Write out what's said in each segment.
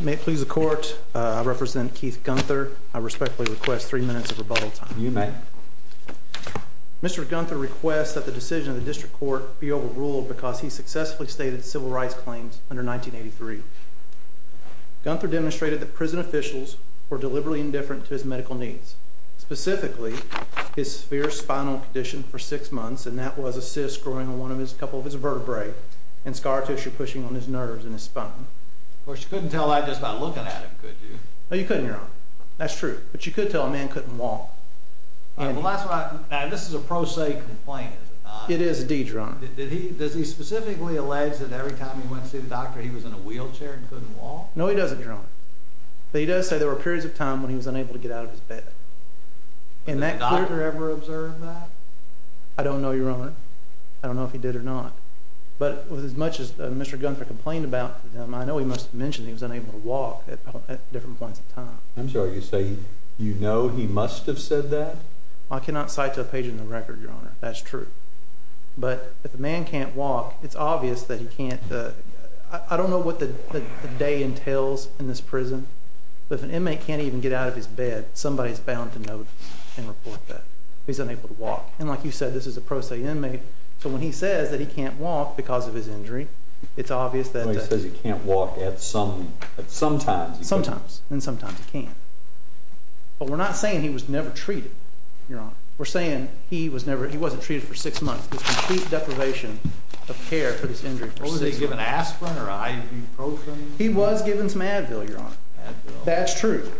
May it please the Court, I represent Keith Gunther. I respectfully request three minutes of rebuttal time. You may. Mr. Gunther requests that the decision of the District Court be overruled because he successfully stated civil rights claims under 1983. Gunther demonstrated that prison officials were deliberately indifferent to his medical needs, specifically his fierce spinal condition for six months, and that was a cyst growing on one of his couple of his vertebrae and scar tissue pushing on his nerves in his spine. Of course, you couldn't tell that just by looking at him, could you? No, you couldn't, Your Honor. That's true. But you could tell a man couldn't walk. This is a pro se complaint, is it not? It is indeed, Your Honor. Does he specifically allege that every time he went to see the doctor he was in a wheelchair and couldn't walk? No, he doesn't, Your Honor. But he does say there were periods of time when he was unable to get out of his bed. Did the doctor ever observe that? I don't know, Your Honor. I don't know if he did or not. But as much as Mr. Gunther complained about him, I know he must have mentioned he was unable to walk at different points of time. I'm sorry, you say you know he must have said that? I cannot cite to a page in the record, Your Honor. That's true. But if a man can't walk, it's obvious that he can't. I don't know what the day entails in this prison. But if an inmate can't even get out of his bed, somebody is bound to notice and report that he's unable to walk. And like you said, this is a pro se inmate. So when he says that he can't walk because of his disability, then sometimes he can. But we're not saying he was never treated, Your Honor. We're saying he was never, he wasn't treated for six months. There's complete deprivation of care for this injury. Was he given aspirin or ibuprofen? He was given some Advil, Your Honor. That's true.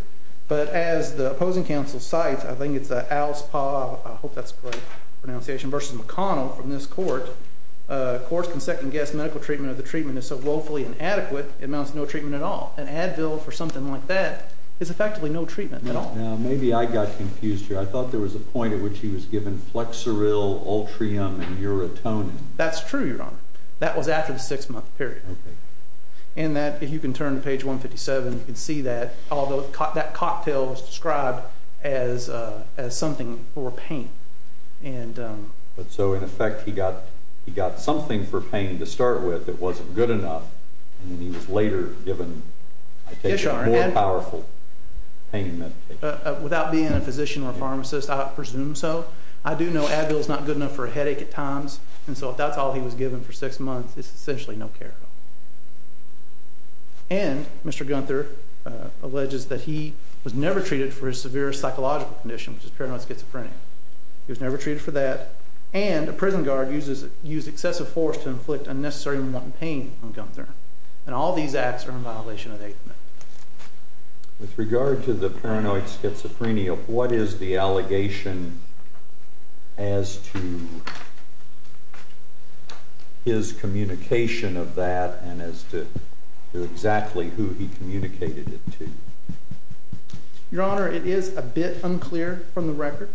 But as the opposing counsel cites, I think it's the Alice Paul, I hope that's the right pronunciation, versus McConnell from this court, courts can second guess medical treatment or the treatment is so woefully inadequate it amounts to no treatment at all. And Advil for something like that is effectively no treatment at all. Now, maybe I got confused here. I thought there was a point at which he was given Flexeril, Ultrium, and Uratonin. That's true, Your Honor. That was after the six month period. Okay. And that, if you can turn to page 157, you can see that that cocktail was described as something for pain. But so in effect, he got something for pain to start with. It wasn't good enough. And he was later given, I take it, more powerful pain medication. Without being a physician or pharmacist, I presume so. I do know Advil's not good enough for a headache at times. And so if that's all he was given for six months, it's essentially no care at all. And Mr. Gunther alleges that he was never treated for his severe psychological condition, which is paranoid schizophrenia. He was never treated for that. And a prison guard used excessive force to inflict unnecessary pain on Gunther. And all these acts are in violation of 8th Amendment. With regard to the paranoid schizophrenia, what is the allegation as to his communication of that and as to exactly who he communicated it to? Your Honor, it is a bit unclear from the record.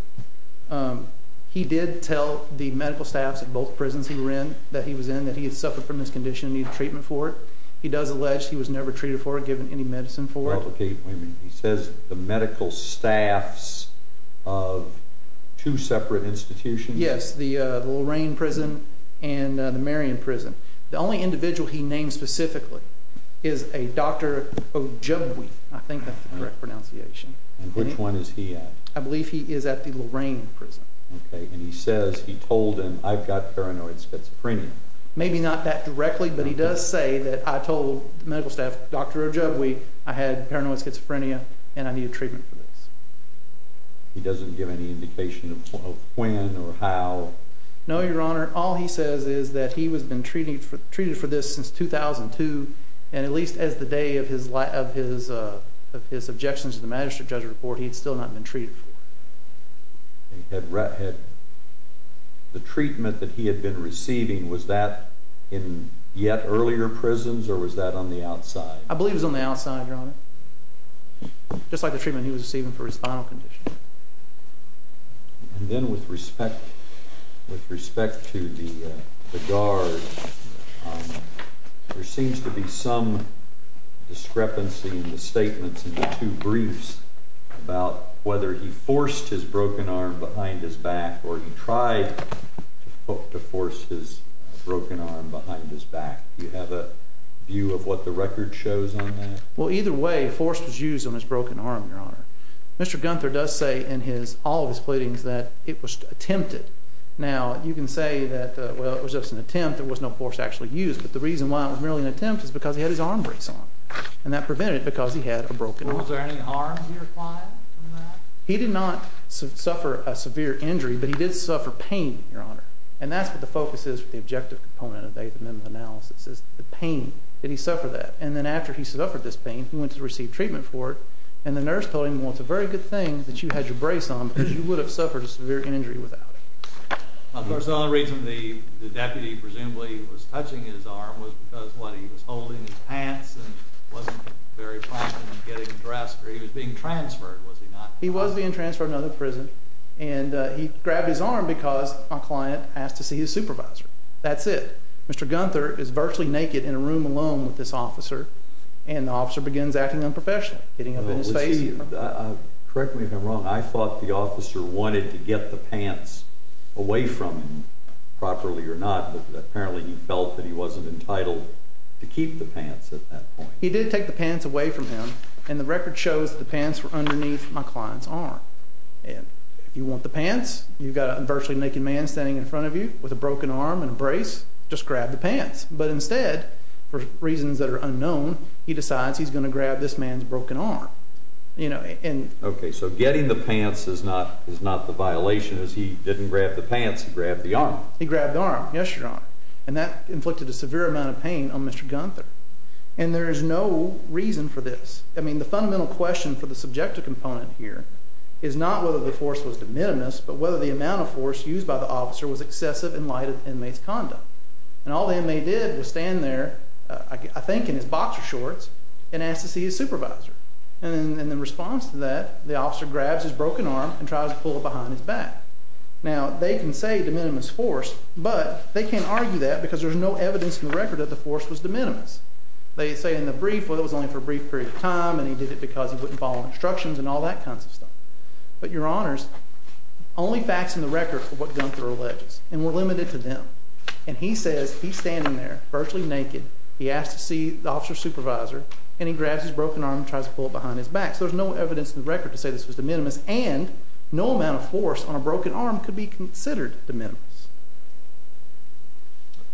He did tell the medical staffs at both prisons he was in that he had suffered from this condition and needed treatment for it. He does allege he was never treated for it, given any medicine for it. Okay, wait a minute. He says the medical staffs of two separate institutions? Yes, the Lorraine prison and the Marion prison. The only individual he named specifically is a Dr. Ojibwe, I think that's the correct pronunciation. And which one is he at? I believe he is at the Lorraine prison. Okay. And he says he told him, I've paranoid schizophrenia. Maybe not that directly, but he does say that I told the medical staff, Dr. Ojibwe, I had paranoid schizophrenia and I needed treatment for this. He doesn't give any indication of when or how? No, Your Honor. All he says is that he has been treated for this since 2002. And at least as the day of his objections to the magistrate judge's report, he'd still not been treated for it. The treatment that he had been receiving, was that in yet earlier prisons or was that on the outside? I believe it was on the outside, Your Honor. Just like the treatment he was receiving for his spinal condition. And then with respect to the guard, there seems to be some discrepancy in the statements in the two briefs about whether he forced his broken arm behind his back or he tried to force his broken arm behind his back. Do you have a view of what the record shows on that? Well, either way, force was used on his broken arm, Your Honor. Mr. Gunther does say in all of his pleadings that it was attempted. Now, you can say that, well, it was just an attempt, there was no force actually used. But the reason why it was merely an attempt is because he had his arm brace on. And that prevented it because he had a broken arm. Was there any harm here from that? He did not suffer a severe injury, but he did suffer pain, Your Honor. And that's what the focus is with the objective component of the 8th Amendment analysis, is the pain. Did he suffer that? And then after he suffered this pain, he went to receive treatment for it. And the nurse told him, well, it's a very good thing that you had your brace on because you would have suffered a severe injury without it. Of course, the only reason the deputy presumably was touching his arm was because, what, he was holding his pants and wasn't very prompt in getting dressed, or he was being transferred, was he not? He was being transferred to another prison, and he grabbed his arm because a client asked to see his supervisor. That's it. Mr. Gunther is virtually naked in a room alone with this officer, and the officer begins acting unprofessionally, getting up in his face. Correct me if I'm wrong, I thought the officer wanted to get the pants away from him, properly or not, but apparently he felt that he wasn't entitled to keep the pants at that point. He did take the pants away from him, and the record shows the pants were underneath my client's arm. And if you want the pants, you've got a virtually naked man standing in front of you with a broken arm and a brace, just grab the pants. But he decides he's going to grab this man's broken arm. Okay, so getting the pants is not the violation, as he didn't grab the pants, he grabbed the arm. He grabbed the arm, yes, your honor. And that inflicted a severe amount of pain on Mr. Gunther. And there is no reason for this. I mean, the fundamental question for the subjective component here is not whether the force was de minimis, but whether the amount of force used by the officer was excessive in light of the inmate's condom. And all the inmate did was stand there, I think in his boxer shorts, and asked to see his supervisor. And in the response to that, the officer grabs his broken arm and tries to pull it behind his back. Now, they can say de minimis force, but they can't argue that because there's no evidence in the record that the force was de minimis. They say in the brief, well, it was only for a brief period of time, and he did it because he wouldn't follow instructions and all that kinds of stuff. But your honors, only facts in the brief. He was standing there, virtually naked. He asked to see the officer's supervisor, and he grabs his broken arm and tries to pull it behind his back. So there's no evidence in the record to say this was de minimis, and no amount of force on a broken arm could be considered de minimis.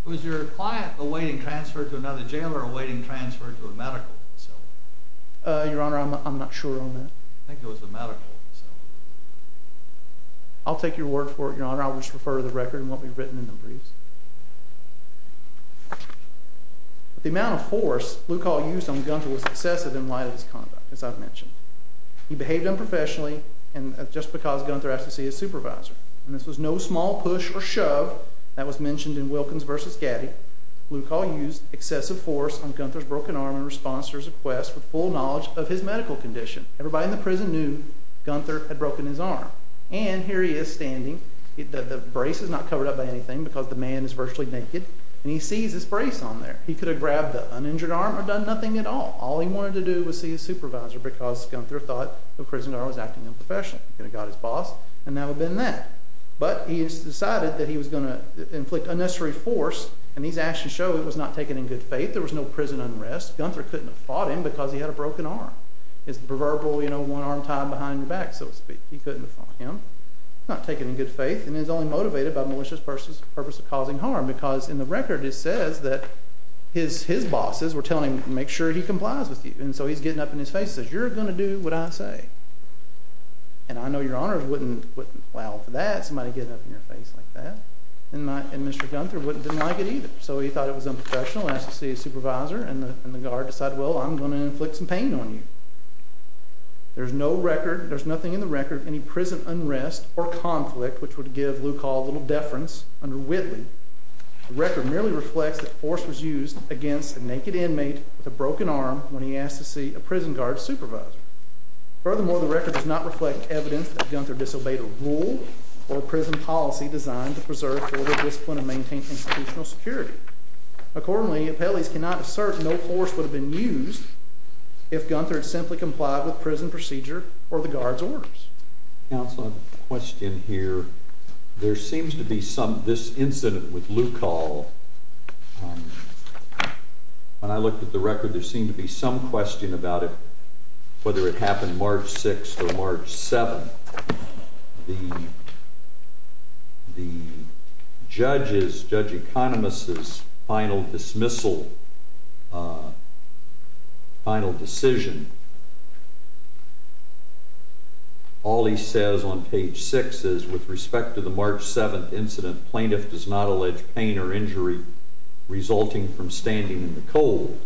Was your client awaiting transfer to another jail or awaiting transfer to a medical facility? Your honor, I'm not sure on that. I think it was a medical facility. I'll take your word for it, your honor. I'll just refer to the record and what we've written in the briefs. The amount of force Luke Hall used on Gunther was excessive in light of his conduct, as I've mentioned. He behaved unprofessionally, just because Gunther asked to see his supervisor. And this was no small push or shove that was mentioned in Wilkins v. Gaddy. Luke Hall used excessive force on Gunther's broken arm in response to his request for full knowledge of his medical condition. Everybody in the prison knew Gunther had broken his arm. And here he is standing. The brace is not covered up by anything because the man is virtually naked. And he sees his brace on there. He could have grabbed the uninjured arm or done nothing at all. All he wanted to do was see his supervisor because Gunther thought the prisoner was acting unprofessionally. He could have got his boss, and that would have been that. But he decided that he was going to inflict unnecessary force. And these actions show it was not taken in good faith. There was no prison unrest. Gunther couldn't have fought him because he had a broken arm. It's the proverbial, you know, one arm tied behind your back, so to speak. He couldn't have fought him. Not taken in good faith and is only motivated by malicious purposes of causing harm because in the record it says that his bosses were telling him to make sure he complies with you. And so he's getting up in his face and says, you're going to do what I say. And I know your honors wouldn't allow for that. Somebody getting up in your face like that. And Mr. Gunther wouldn't deny it either. So he thought it was unprofessional and asked to see his supervisor. And the guard decided, well, I'm going to inflict some pain on you. There's no record, there's nothing in the record of any prison unrest or conflict which would give Luke Hall a little deference under Whitley. The record merely reflects that force was used against a naked inmate with a broken arm when he asked to see a prison guard supervisor. Furthermore, the record does not reflect evidence that Gunther disobeyed a rule or a prison policy designed to preserve formal discipline and maintain institutional security. Accordingly, appellees cannot assert no force would have been used if Gunther had simply complied with prison procedure or the guard's orders. Counsel, I have a question here. There seems to be some, this incident with Luke Hall, when I looked at the record there seemed to be some question about it, whether it happened March 6th or March 7th. The judge's, Judge Economist's final dismissal, final decision, all he says on page 6 is, with respect to the March 7th incident, plaintiff does not allege pain or injury resulting from standing in the cold.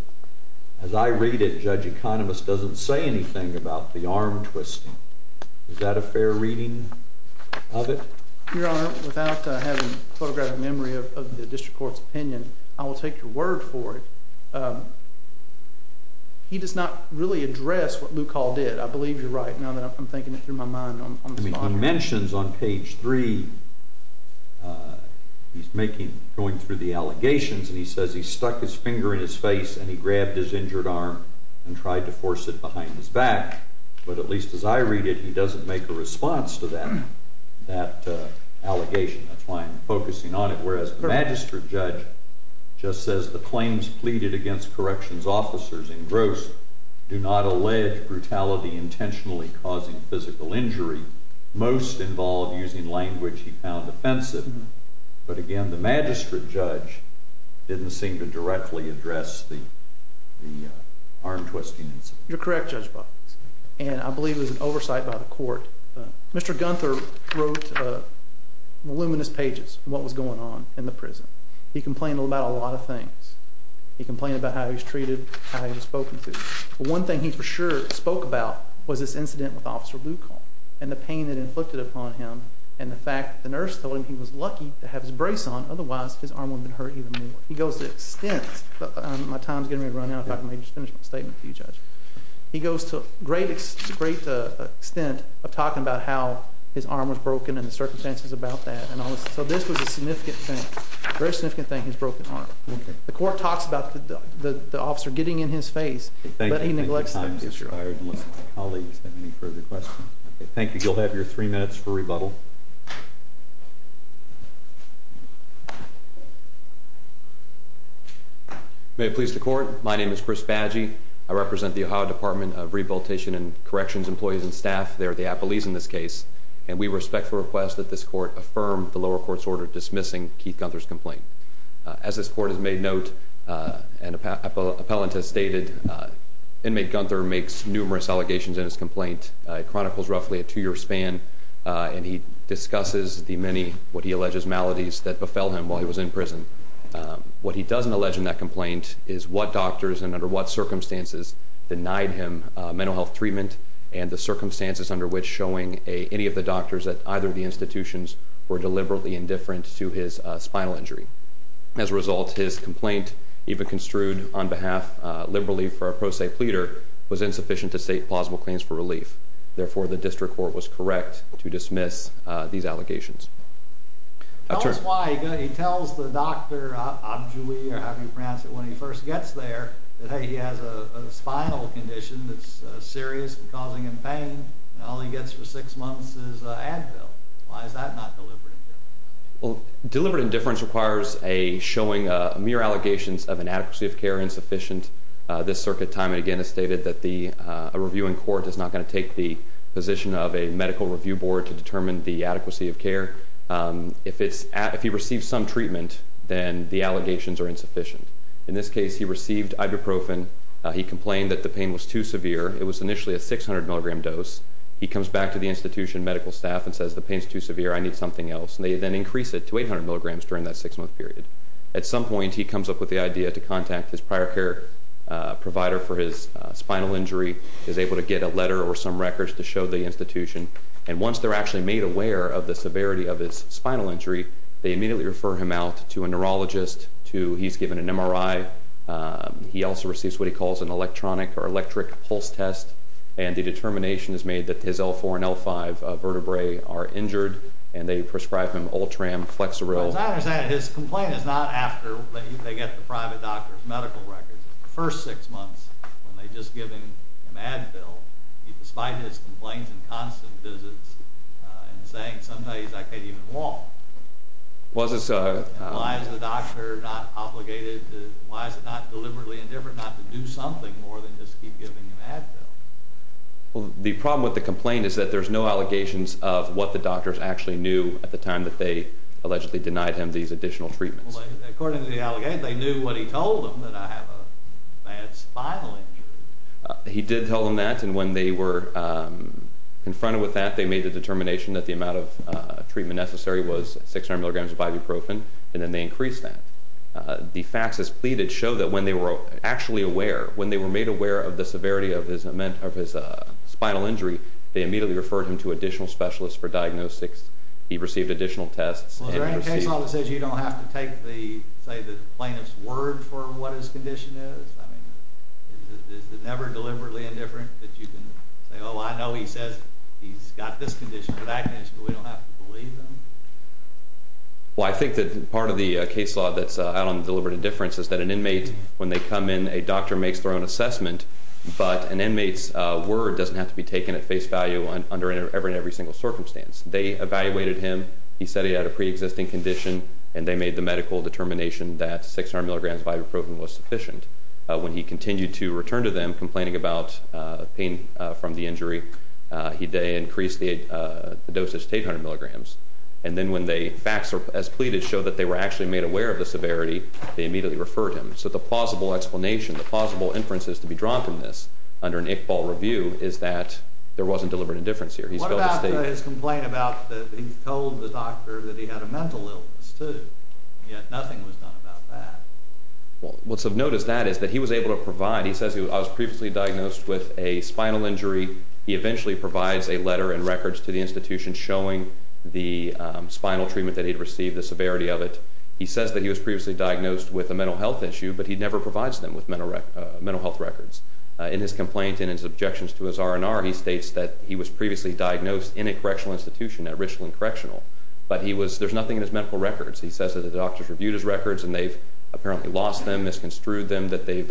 As I read it, Judge Economist doesn't say anything about the arm twisting. Is that a fair reading of it? Your Honor, without having a photographic memory of the district court's opinion, I will take your word for it. He does not really address what Luke Hall did. I believe you're right now that I'm thinking it through my mind. He mentions on page 3, he's going through the allegations, and he says he stuck his finger in his face and he grabbed his injured arm and tried to force it behind his back. But at least as I read it, he doesn't make a response to that allegation. That's why I'm focusing on it. Whereas the magistrate judge just says, the claims pleaded against corrections officers in gross do not allege brutality intentionally causing physical injury. Most involved using language he found offensive. But again, the magistrate judge didn't seem to directly address the arm twisting incident. You're correct, Judge Butler. I believe it was an oversight by the court. Mr. Gunther wrote voluminous pages of what was going on in the prison. He complained about a lot of things. He complained about how he was treated, how he was spoken to. One thing he for sure spoke about was this incident with Officer Luke Hall and the pain it inflicted upon him, and the fact that the nurse told him he was lucky to have his brace on, otherwise his arm wouldn't have been hurt even more. He goes to the extent, my time is getting run out, if I can just finish my statement for you, Judge. He goes to a great extent of talking about how his arm was broken and the circumstances about that. So this was a significant thing. A very significant thing, his broken arm. The court talks about the officer getting in his face, but he neglects it. Thank you. You'll have your three minutes for rebuttal. May it please the court, my name is Chris Baggi. I represent the Ohio Department of Rehabilitation and Corrections employees and staff. They're the appellees in this case, and we respect the request that this court affirm the lower court's order dismissing Keith Gunther's complaint. As this court has made note and appellant has stated, inmate Gunther makes numerous allegations in his complaint. It chronicles roughly a two-year span, and he discusses the many, what he alleges, maladies that befell him while he was in prison. What he doesn't allege in that complaint is what doctors and under what circumstances denied him mental health treatment and the circumstances under which showing any of the doctors at either of the institutions were deliberately indifferent to his spinal injury. As a result, his complaint, even construed on behalf, liberally for a pro se pleader, was insufficient to state plausible claims for relief. Therefore, the district court was correct to dismiss these allegations. Tell us why. He tells the doctor when he first gets there that he has a spinal condition that's serious and causing him pain, and all he gets for six months is Advil. Why is that not deliberate indifference? Deliberate indifference requires showing mere allegations of inadequacy of care insufficient. This circuit time, again, has stated that a review in court is not going to take the position of a medical review board to determine the adequacy of care. If he receives some treatment, then the allegations are insufficient. In this case, he received ibuprofen. He complained that the pain was too severe. It was initially a 600-milligram dose. He comes back to the institution medical staff and says the pain is too severe, I need something else, and they then increase it to 800 milligrams during that six-month period. At some point, he comes up with the idea to contact his prior care provider for his spinal injury, is able to get a letter or some records to show the institution, and once they're actually made aware of the severity of his spinal injury, they immediately refer him out to a neurologist. He's given an MRI. He also receives what he calls an electronic or electric pulse test, and the determination is made that his L4 and L5 vertebrae are injured, and they prescribe him Ultram Flexeril. His complaint is not after they get the private doctor's medical records. The first six months, when they just give him Advil, despite his complaints and constant visits, and saying, sometimes I can't even walk. Why is the doctor not obligated, why is it not deliberately indifferent not to do something more than just keep giving him Advil? The problem with the complaint is that there's no allegations of what the doctors actually knew at the time that they allegedly denied him these additional treatments. According to the allegation, they knew what he told them, that I have a bad spinal injury. He did tell them that, and when they were confronted with that, they made the determination that the amount of treatment necessary was 600 milligrams of ibuprofen, and then they increased that. The facts as pleaded show that when they were actually aware, when they were made aware of the severity of his spinal injury, they immediately referred him to additional specialists for diagnostics. He received additional tests. Well, is there any case law that says you don't have to take, say, the plaintiff's word for what his condition is? I mean, is it never deliberately indifferent that you can say, oh, I know he says he's got this condition or that condition, but we don't have to believe him? Well, I think that part of the case law that's out on deliberate indifference is that an inmate, when they come in, a doctor makes their own assessment, but an inmate's word doesn't have to be taken at face value under every single circumstance. They evaluated him, he said he had a preexisting condition, and they made the medical determination that 600 milligrams of ibuprofen was sufficient. When he continued to return to them complaining about pain from the injury, they increased the dosage to 800 milligrams, and then when the facts as pleaded show that they were actually made aware of the severity, they immediately referred him. So the plausible explanation, the plausible inferences to be drawn from this under an Iqbal review is that there wasn't deliberate indifference here. What about his complaint about that he told the doctor that he had a mental illness, too, yet nothing was done about that? Well, what's of note is that he was able to provide. He says he was previously diagnosed with a spinal injury. He eventually provides a letter and records to the institution showing the spinal treatment that he'd received, the severity of it. He says that he was previously diagnosed with a mental health issue, but he never provides them with mental health records. In his complaint and his objections to his R&R, he states that he was previously diagnosed in a correctional institution at Richland Correctional, but there's nothing in his medical records. He says that the doctors reviewed his records and they've apparently lost them, misconstrued them, that they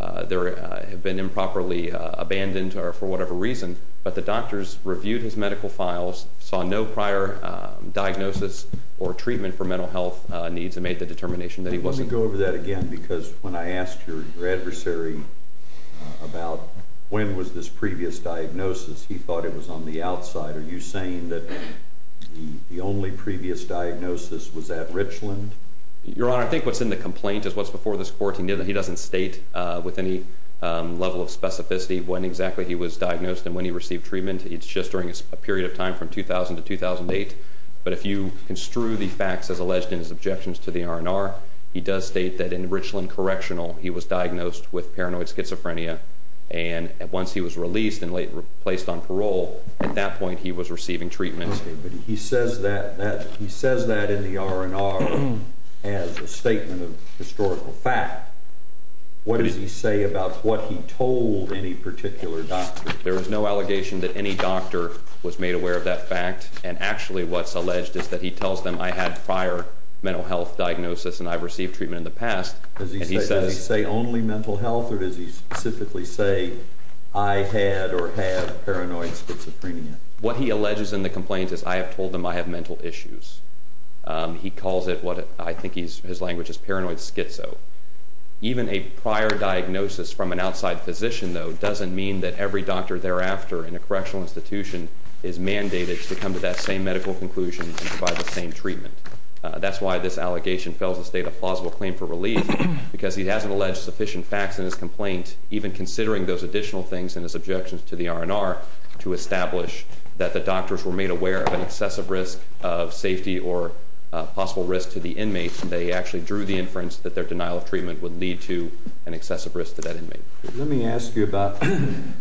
have been improperly abandoned for whatever reason, but the doctors reviewed his medical files, saw no prior diagnosis or treatment for mental health needs and made the determination that he wasn't. Let me go over that again because when I asked your adversary about when was this previous diagnosis, he thought it was on the outside. Are you saying that the only previous diagnosis was at Richland? Your Honor, I think what's in the complaint is what's before this court. He doesn't state with any level of specificity when exactly he was diagnosed and when he received treatment. It's just during a period of time from 2000 to 2008, but if you construe the facts as alleged in his objections to the R&R, he does state that in Richland Correctional he was diagnosed with paranoid schizophrenia and once he was released and placed on parole, at that point he was receiving treatment. He says that in the R&R as a statement of historical fact. What does he say about what he told any particular doctor? There is no allegation that any doctor was made aware of that fact, and actually what's alleged is that he tells them, I had prior mental health diagnosis and I received treatment in the past. Does he say only mental health or does he specifically say I had or have paranoid schizophrenia? What he alleges in the complaint is I have told them I have mental issues. He calls it what I think his language is paranoid schizo. Even a prior diagnosis from an outside physician, though, doesn't mean that every doctor thereafter in a correctional institution is mandated to come to that same medical conclusion and provide the same treatment. That's why this allegation fails to state a plausible claim for relief because he hasn't alleged sufficient facts in his complaint, even considering those additional things in his objections to the R&R, to establish that the doctors were made aware of an excessive risk of safety or possible risk to the inmates. They actually drew the inference that their denial of treatment would lead to an excessive risk to that inmate. Let me ask you about, the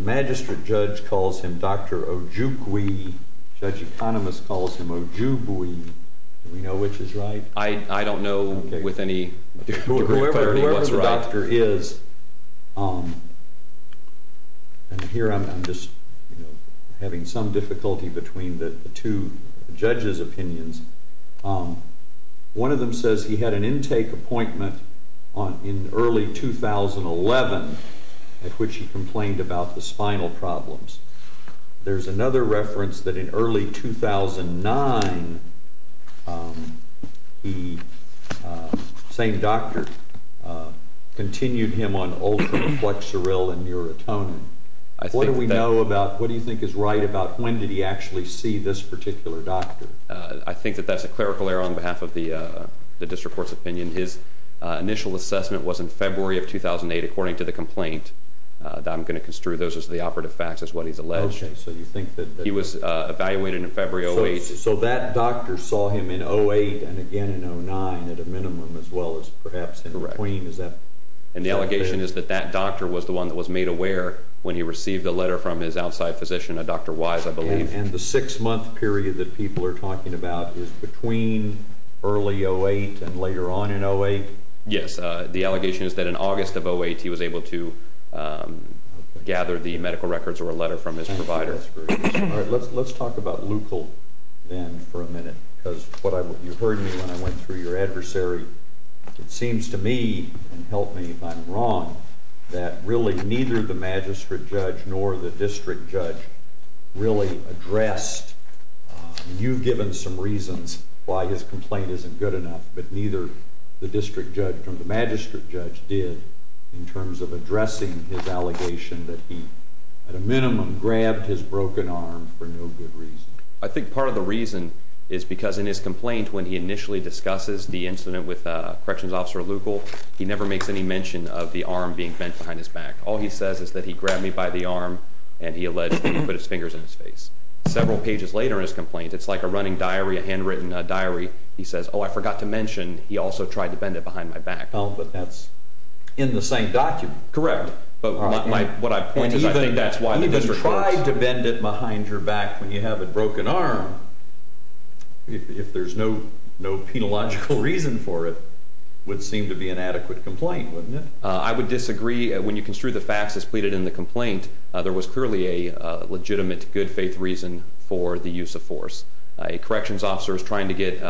magistrate judge calls him Dr. Ojugwe. Judge Economist calls him Ojugwe. Do we know which is right? I don't know with any clarity what's right. Whoever the doctor is, One of them says he had an intake appointment in early 2011 at which he complained about the spinal problems. There's another reference that in early 2009, the same doctor continued him on ultra-flexeril and Neurotonin. What do we know about, what do you think is right about when did he actually see this particular doctor? I think that that's a clerical error on behalf of the district court's opinion. His initial assessment was in February of 2008, according to the complaint. I'm going to construe those as the operative facts as what he's alleged. He was evaluated in February of 2008. So that doctor saw him in 2008 and again in 2009 at a minimum, as well as perhaps in between. And the allegation is that that doctor was the one that was made aware And the six-month period that people are talking about is between early 2008 and later on in 2008? Yes, the allegation is that in August of 2008, he was able to gather the medical records or a letter from his provider. All right, let's talk about Leucl then for a minute. Because you heard me when I went through your adversary. It seems to me, and help me if I'm wrong, that really neither the magistrate judge nor the district judge really addressed. You've given some reasons why his complaint isn't good enough, but neither the district judge nor the magistrate judge did in terms of addressing his allegation that he, at a minimum, grabbed his broken arm for no good reason. I think part of the reason is because in his complaint, when he initially discusses the incident with Corrections Officer Leucl, he never makes any mention of the arm being bent behind his back. All he says is that he grabbed me by the arm, and he alleged that he put his fingers in his face. Several pages later in his complaint, it's like a running diary, a handwritten diary, he says, Oh, I forgot to mention he also tried to bend it behind my back. Oh, but that's in the same document. Correct, but what I point is I think that's why the district judge... Even tried to bend it behind your back when you have a broken arm, if there's no penological reason for it, would seem to be an adequate complaint, wouldn't it? I would disagree. When you construe the facts as pleaded in the complaint, there was clearly a legitimate, good-faith reason for the use of force. A Corrections Officer is trying to get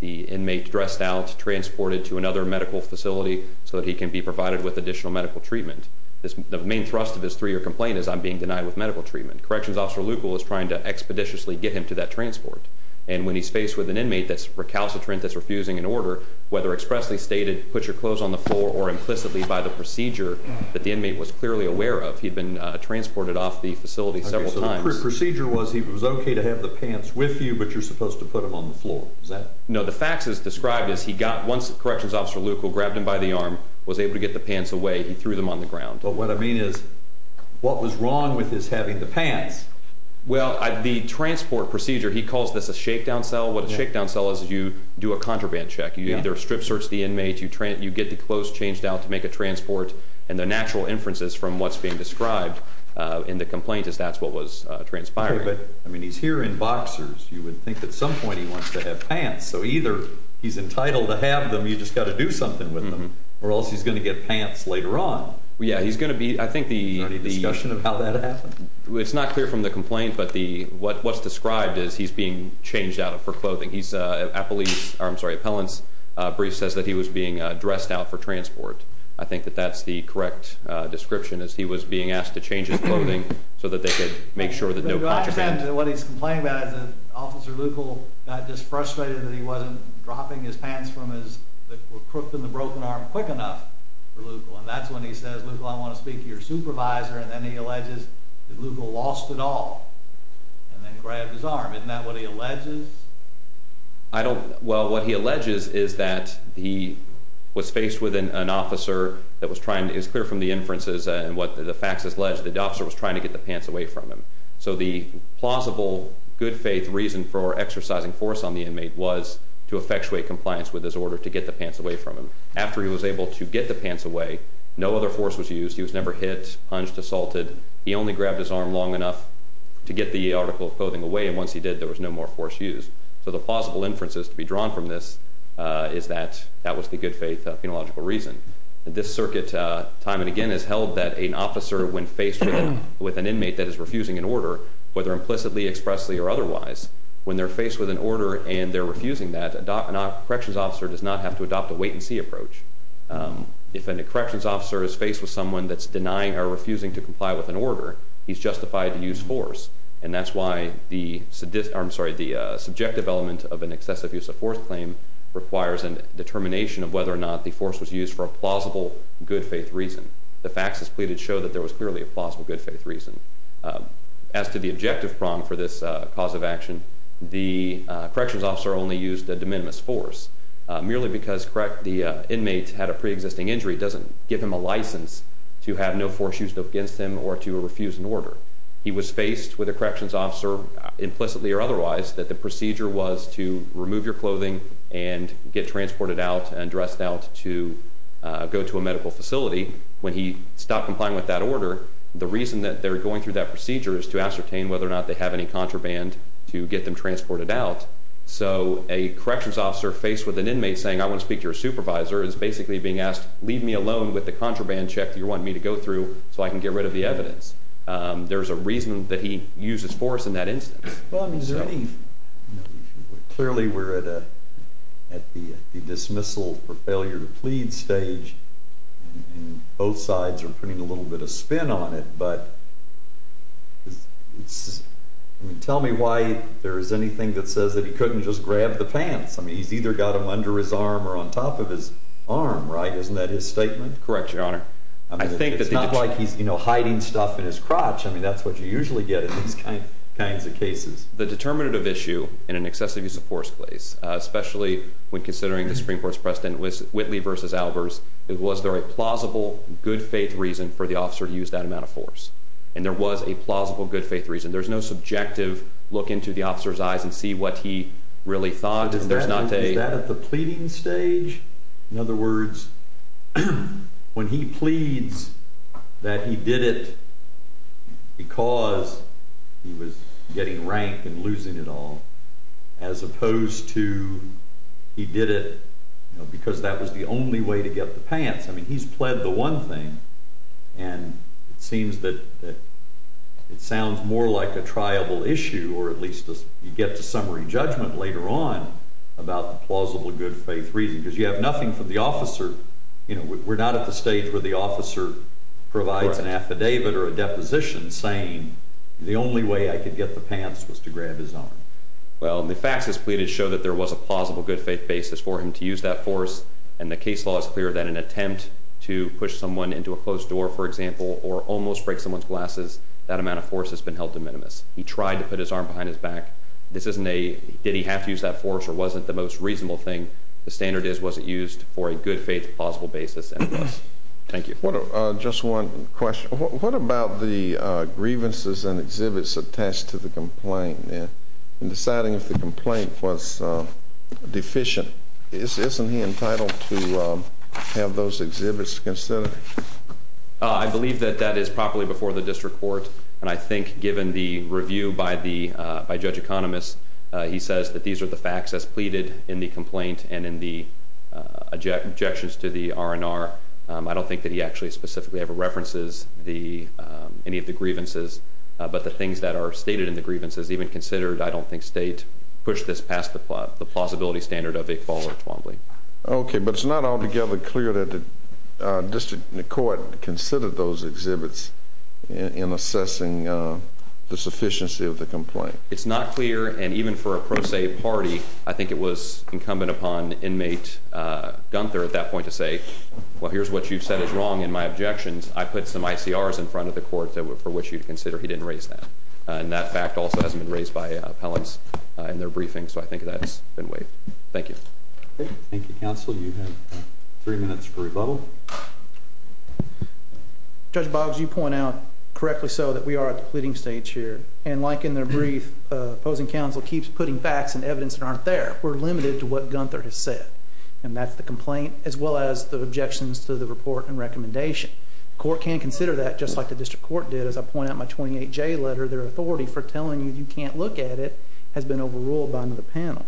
the inmate dressed out, transported to another medical facility so that he can be provided with additional medical treatment. The main thrust of his three-year complaint is, I'm being denied with medical treatment. Corrections Officer Leucl is trying to expeditiously get him to that transport. And when he's faced with an inmate that's recalcitrant, that's refusing an order, whether expressly stated, put your clothes on the floor, or implicitly by the procedure that the inmate was clearly aware of. He'd been transported off the facility several times. Okay, so the procedure was he was okay to have the pants with you, but you're supposed to put them on the floor, is that... No, the facts as described is he got... Once Corrections Officer Leucl grabbed him by the arm, was able to get the pants away, he threw them on the ground. But what I mean is, what was wrong with his having the pants? Well, the transport procedure, he calls this a shakedown cell. What a shakedown cell is, is you do a contraband check. You either strip search the inmate, you get the clothes changed out to make a transport, and the natural inferences from what's being described in the complaint is that's what was transpired. Okay, but he's here in boxers. You would think at some point he wants to have pants. So either he's entitled to have them, you just got to do something with them, or else he's going to get pants later on. Yeah, he's going to be... Is there any discussion of how that happened? It's not clear from the complaint, but what's described is he's being changed out for clothing. Appellant's brief says that he was being dressed out for transport. I think that that's the correct description, is he was being asked to change his clothing so that they could make sure that no contraband... I understand what he's complaining about is that Officer Leukel got just frustrated that he wasn't dropping his pants that were crooked in the broken arm quick enough for Leukel, and that's when he says, Leukel, I want to speak to your supervisor, isn't that what he alleges? I don't... Well, what he alleges is that he was faced with an officer that was trying to... It's clear from the inferences and what the facts allege that the officer was trying to get the pants away from him. So the plausible, good-faith reason for exercising force on the inmate was to effectuate compliance with his order to get the pants away from him. After he was able to get the pants away, no other force was used. He was never hit, punched, assaulted. He only grabbed his arm long enough to get the article of clothing away, and once he did, there was no more force used. So the plausible inferences to be drawn from this is that that was the good-faith phenological reason. This circuit time and again has held that an officer, when faced with an inmate that is refusing an order, whether implicitly, expressly, or otherwise, when they're faced with an order and they're refusing that, a corrections officer does not have to adopt a wait-and-see approach. If a corrections officer is faced with someone that's denying or refusing to comply with an order, he's justified to use force, and that's why the subjective element of an excessive use of force claim requires a determination of whether or not the force was used for a plausible good-faith reason. The facts as pleaded show that there was clearly a plausible good-faith reason. As to the objective prong for this cause of action, the corrections officer only used a de minimis force. Merely because the inmate had a pre-existing injury doesn't give him a license to have no force used against him or to refuse an order. He was faced with a corrections officer, implicitly or otherwise, that the procedure was to remove your clothing and get transported out and dressed out to go to a medical facility. When he stopped complying with that order, the reason that they're going through that procedure is to ascertain whether or not they have any contraband to get them transported out. So a corrections officer faced with an inmate saying, I want to speak to your supervisor, is basically being asked, leave me alone with the contraband check that you want me to go through so I can get rid of the evidence. There's a reason that he used his force in that instance. Clearly we're at the dismissal for failure to plead stage. Both sides are putting a little bit of spin on it, but tell me why there is anything that says that he couldn't just grab the pants. He's either got them under his arm or on top of his arm, right? Isn't that his statement? Correct, Your Honor. It's not like he's hiding stuff in his crotch. I mean, that's what you usually get in these kinds of cases. The determinative issue in an excessive use of force case, especially when considering the Supreme Court's precedent with Whitley v. Albers, was there a plausible good faith reason for the officer to use that amount of force? And there was a plausible good faith reason. There's no subjective look into the officer's eyes and see what he really thought. Is that at the pleading stage? In other words, when he pleads that he did it because he was getting rank and losing it all, as opposed to he did it because that was the only way to get the pants. I mean, he's pled the one thing, and it seems that it sounds more like a triable issue, or at least you get to summary judgment later on about the plausible good faith reason, because you have nothing from the officer. We're not at the stage where the officer provides an affidavit or a deposition saying the only way I could get the pants was to grab his arm. Well, the facts as pleaded show that there was a plausible good faith basis for him to use that force, and the case law is clear that in an attempt to push someone into a closed door, for example, or almost break someone's glasses, that amount of force has been held de minimis. He tried to put his arm behind his back. This isn't a did he have to use that force or wasn't the most reasonable thing. The standard is was it used for a good faith plausible basis, and it was. Thank you. Just one question. What about the grievances and exhibits attached to the complaint? In deciding if the complaint was deficient, isn't he entitled to have those exhibits considered? I believe that that is properly before the district court, and I think given the review by Judge Economist, he says that these are the facts as pleaded in the complaint and in the objections to the R&R. I don't think that he actually specifically ever references any of the grievances, but the things that are stated in the grievances, even considered, I don't think state pushed this past the plausibility standard of a fall or a twombly. Okay, but it's not altogether clear that the district court considered those exhibits in assessing the sufficiency of the complaint. It's not clear, and even for a pro se party, I think it was incumbent upon inmate Gunther at that point to say, Well, here's what you've said is wrong in my objections. I put some ICRs in front of the court for which you'd consider he didn't raise that. And that fact also hasn't been raised by appellants in their briefings, so I think that's been waived. Thank you. Thank you, counsel. You have three minutes for rebuttal. Judge Boggs, you point out correctly so that we are at the pleading stage here, and like in their brief, opposing counsel keeps putting facts and evidence that aren't there. We're limited to what Gunther has said, and that's the complaint as well as the objections to the report and recommendation. The court can consider that just like the district court did. As I point out in my 28J letter, their authority for telling you you can't look at it has been overruled by another panel.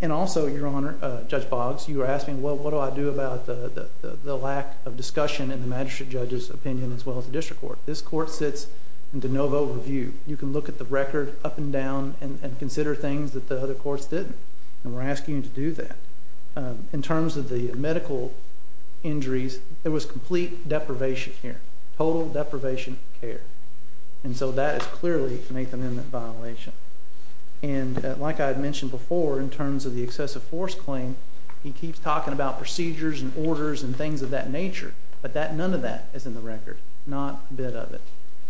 And also, Your Honor, Judge Boggs, you were asking, Well, what do I do about the lack of discussion in the magistrate judge's opinion as well as the district court. This court sits in de novo review. You can look at the record up and down and consider things that the other courts didn't, and we're asking you to do that. In terms of the medical injuries, there was complete deprivation here, total deprivation of care. And so that is clearly an Eighth Amendment violation. And like I had mentioned before, in terms of the excessive force claim, he keeps talking about procedures and orders and things of that nature, but none of that is in the record, not a bit of it.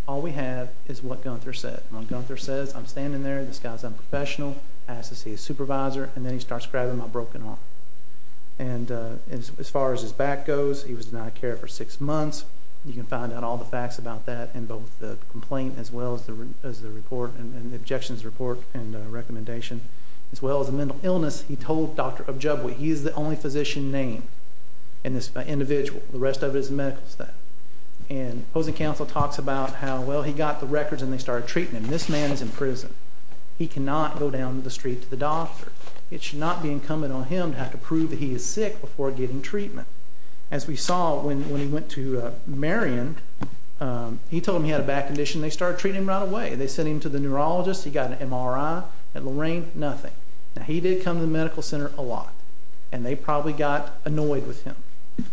All we have is what Gunther said. When Gunther says, I'm standing there, this guy's unprofessional, asks to see his supervisor, and then he starts grabbing my broken arm. And as far as his back goes, he was denied care for six months. You can find out all the facts about that in both the complaint as well as the report and the objections to the report and recommendation. As well as the mental illness, he told Dr. Objabwe, he is the only physician named in this individual. The rest of it is medical stuff. And opposing counsel talks about how, well, he got the records and they started treating him. This man is in prison. He cannot go down the street to the doctor. It should not be incumbent on him to have to prove that he is sick before getting treatment. As we saw when he went to Marion, he told them he had a bad condition. They started treating him right away. They sent him to the neurologist. He got an MRI. At Lorraine, nothing. Now, he did come to the medical center a lot, and they probably got annoyed with him.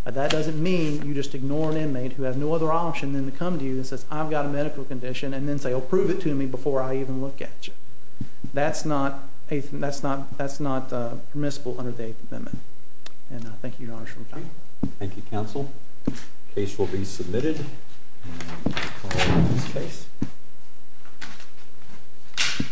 But that doesn't mean you just ignore an inmate who has no other option than to come to you and says, I've got a medical condition, and then say, oh, prove it to me before I even look at you. That's not permissible under the Eighth Amendment. And I thank you, Your Honor, for your time. Thank you, counsel. The case will be submitted. Call the witness case.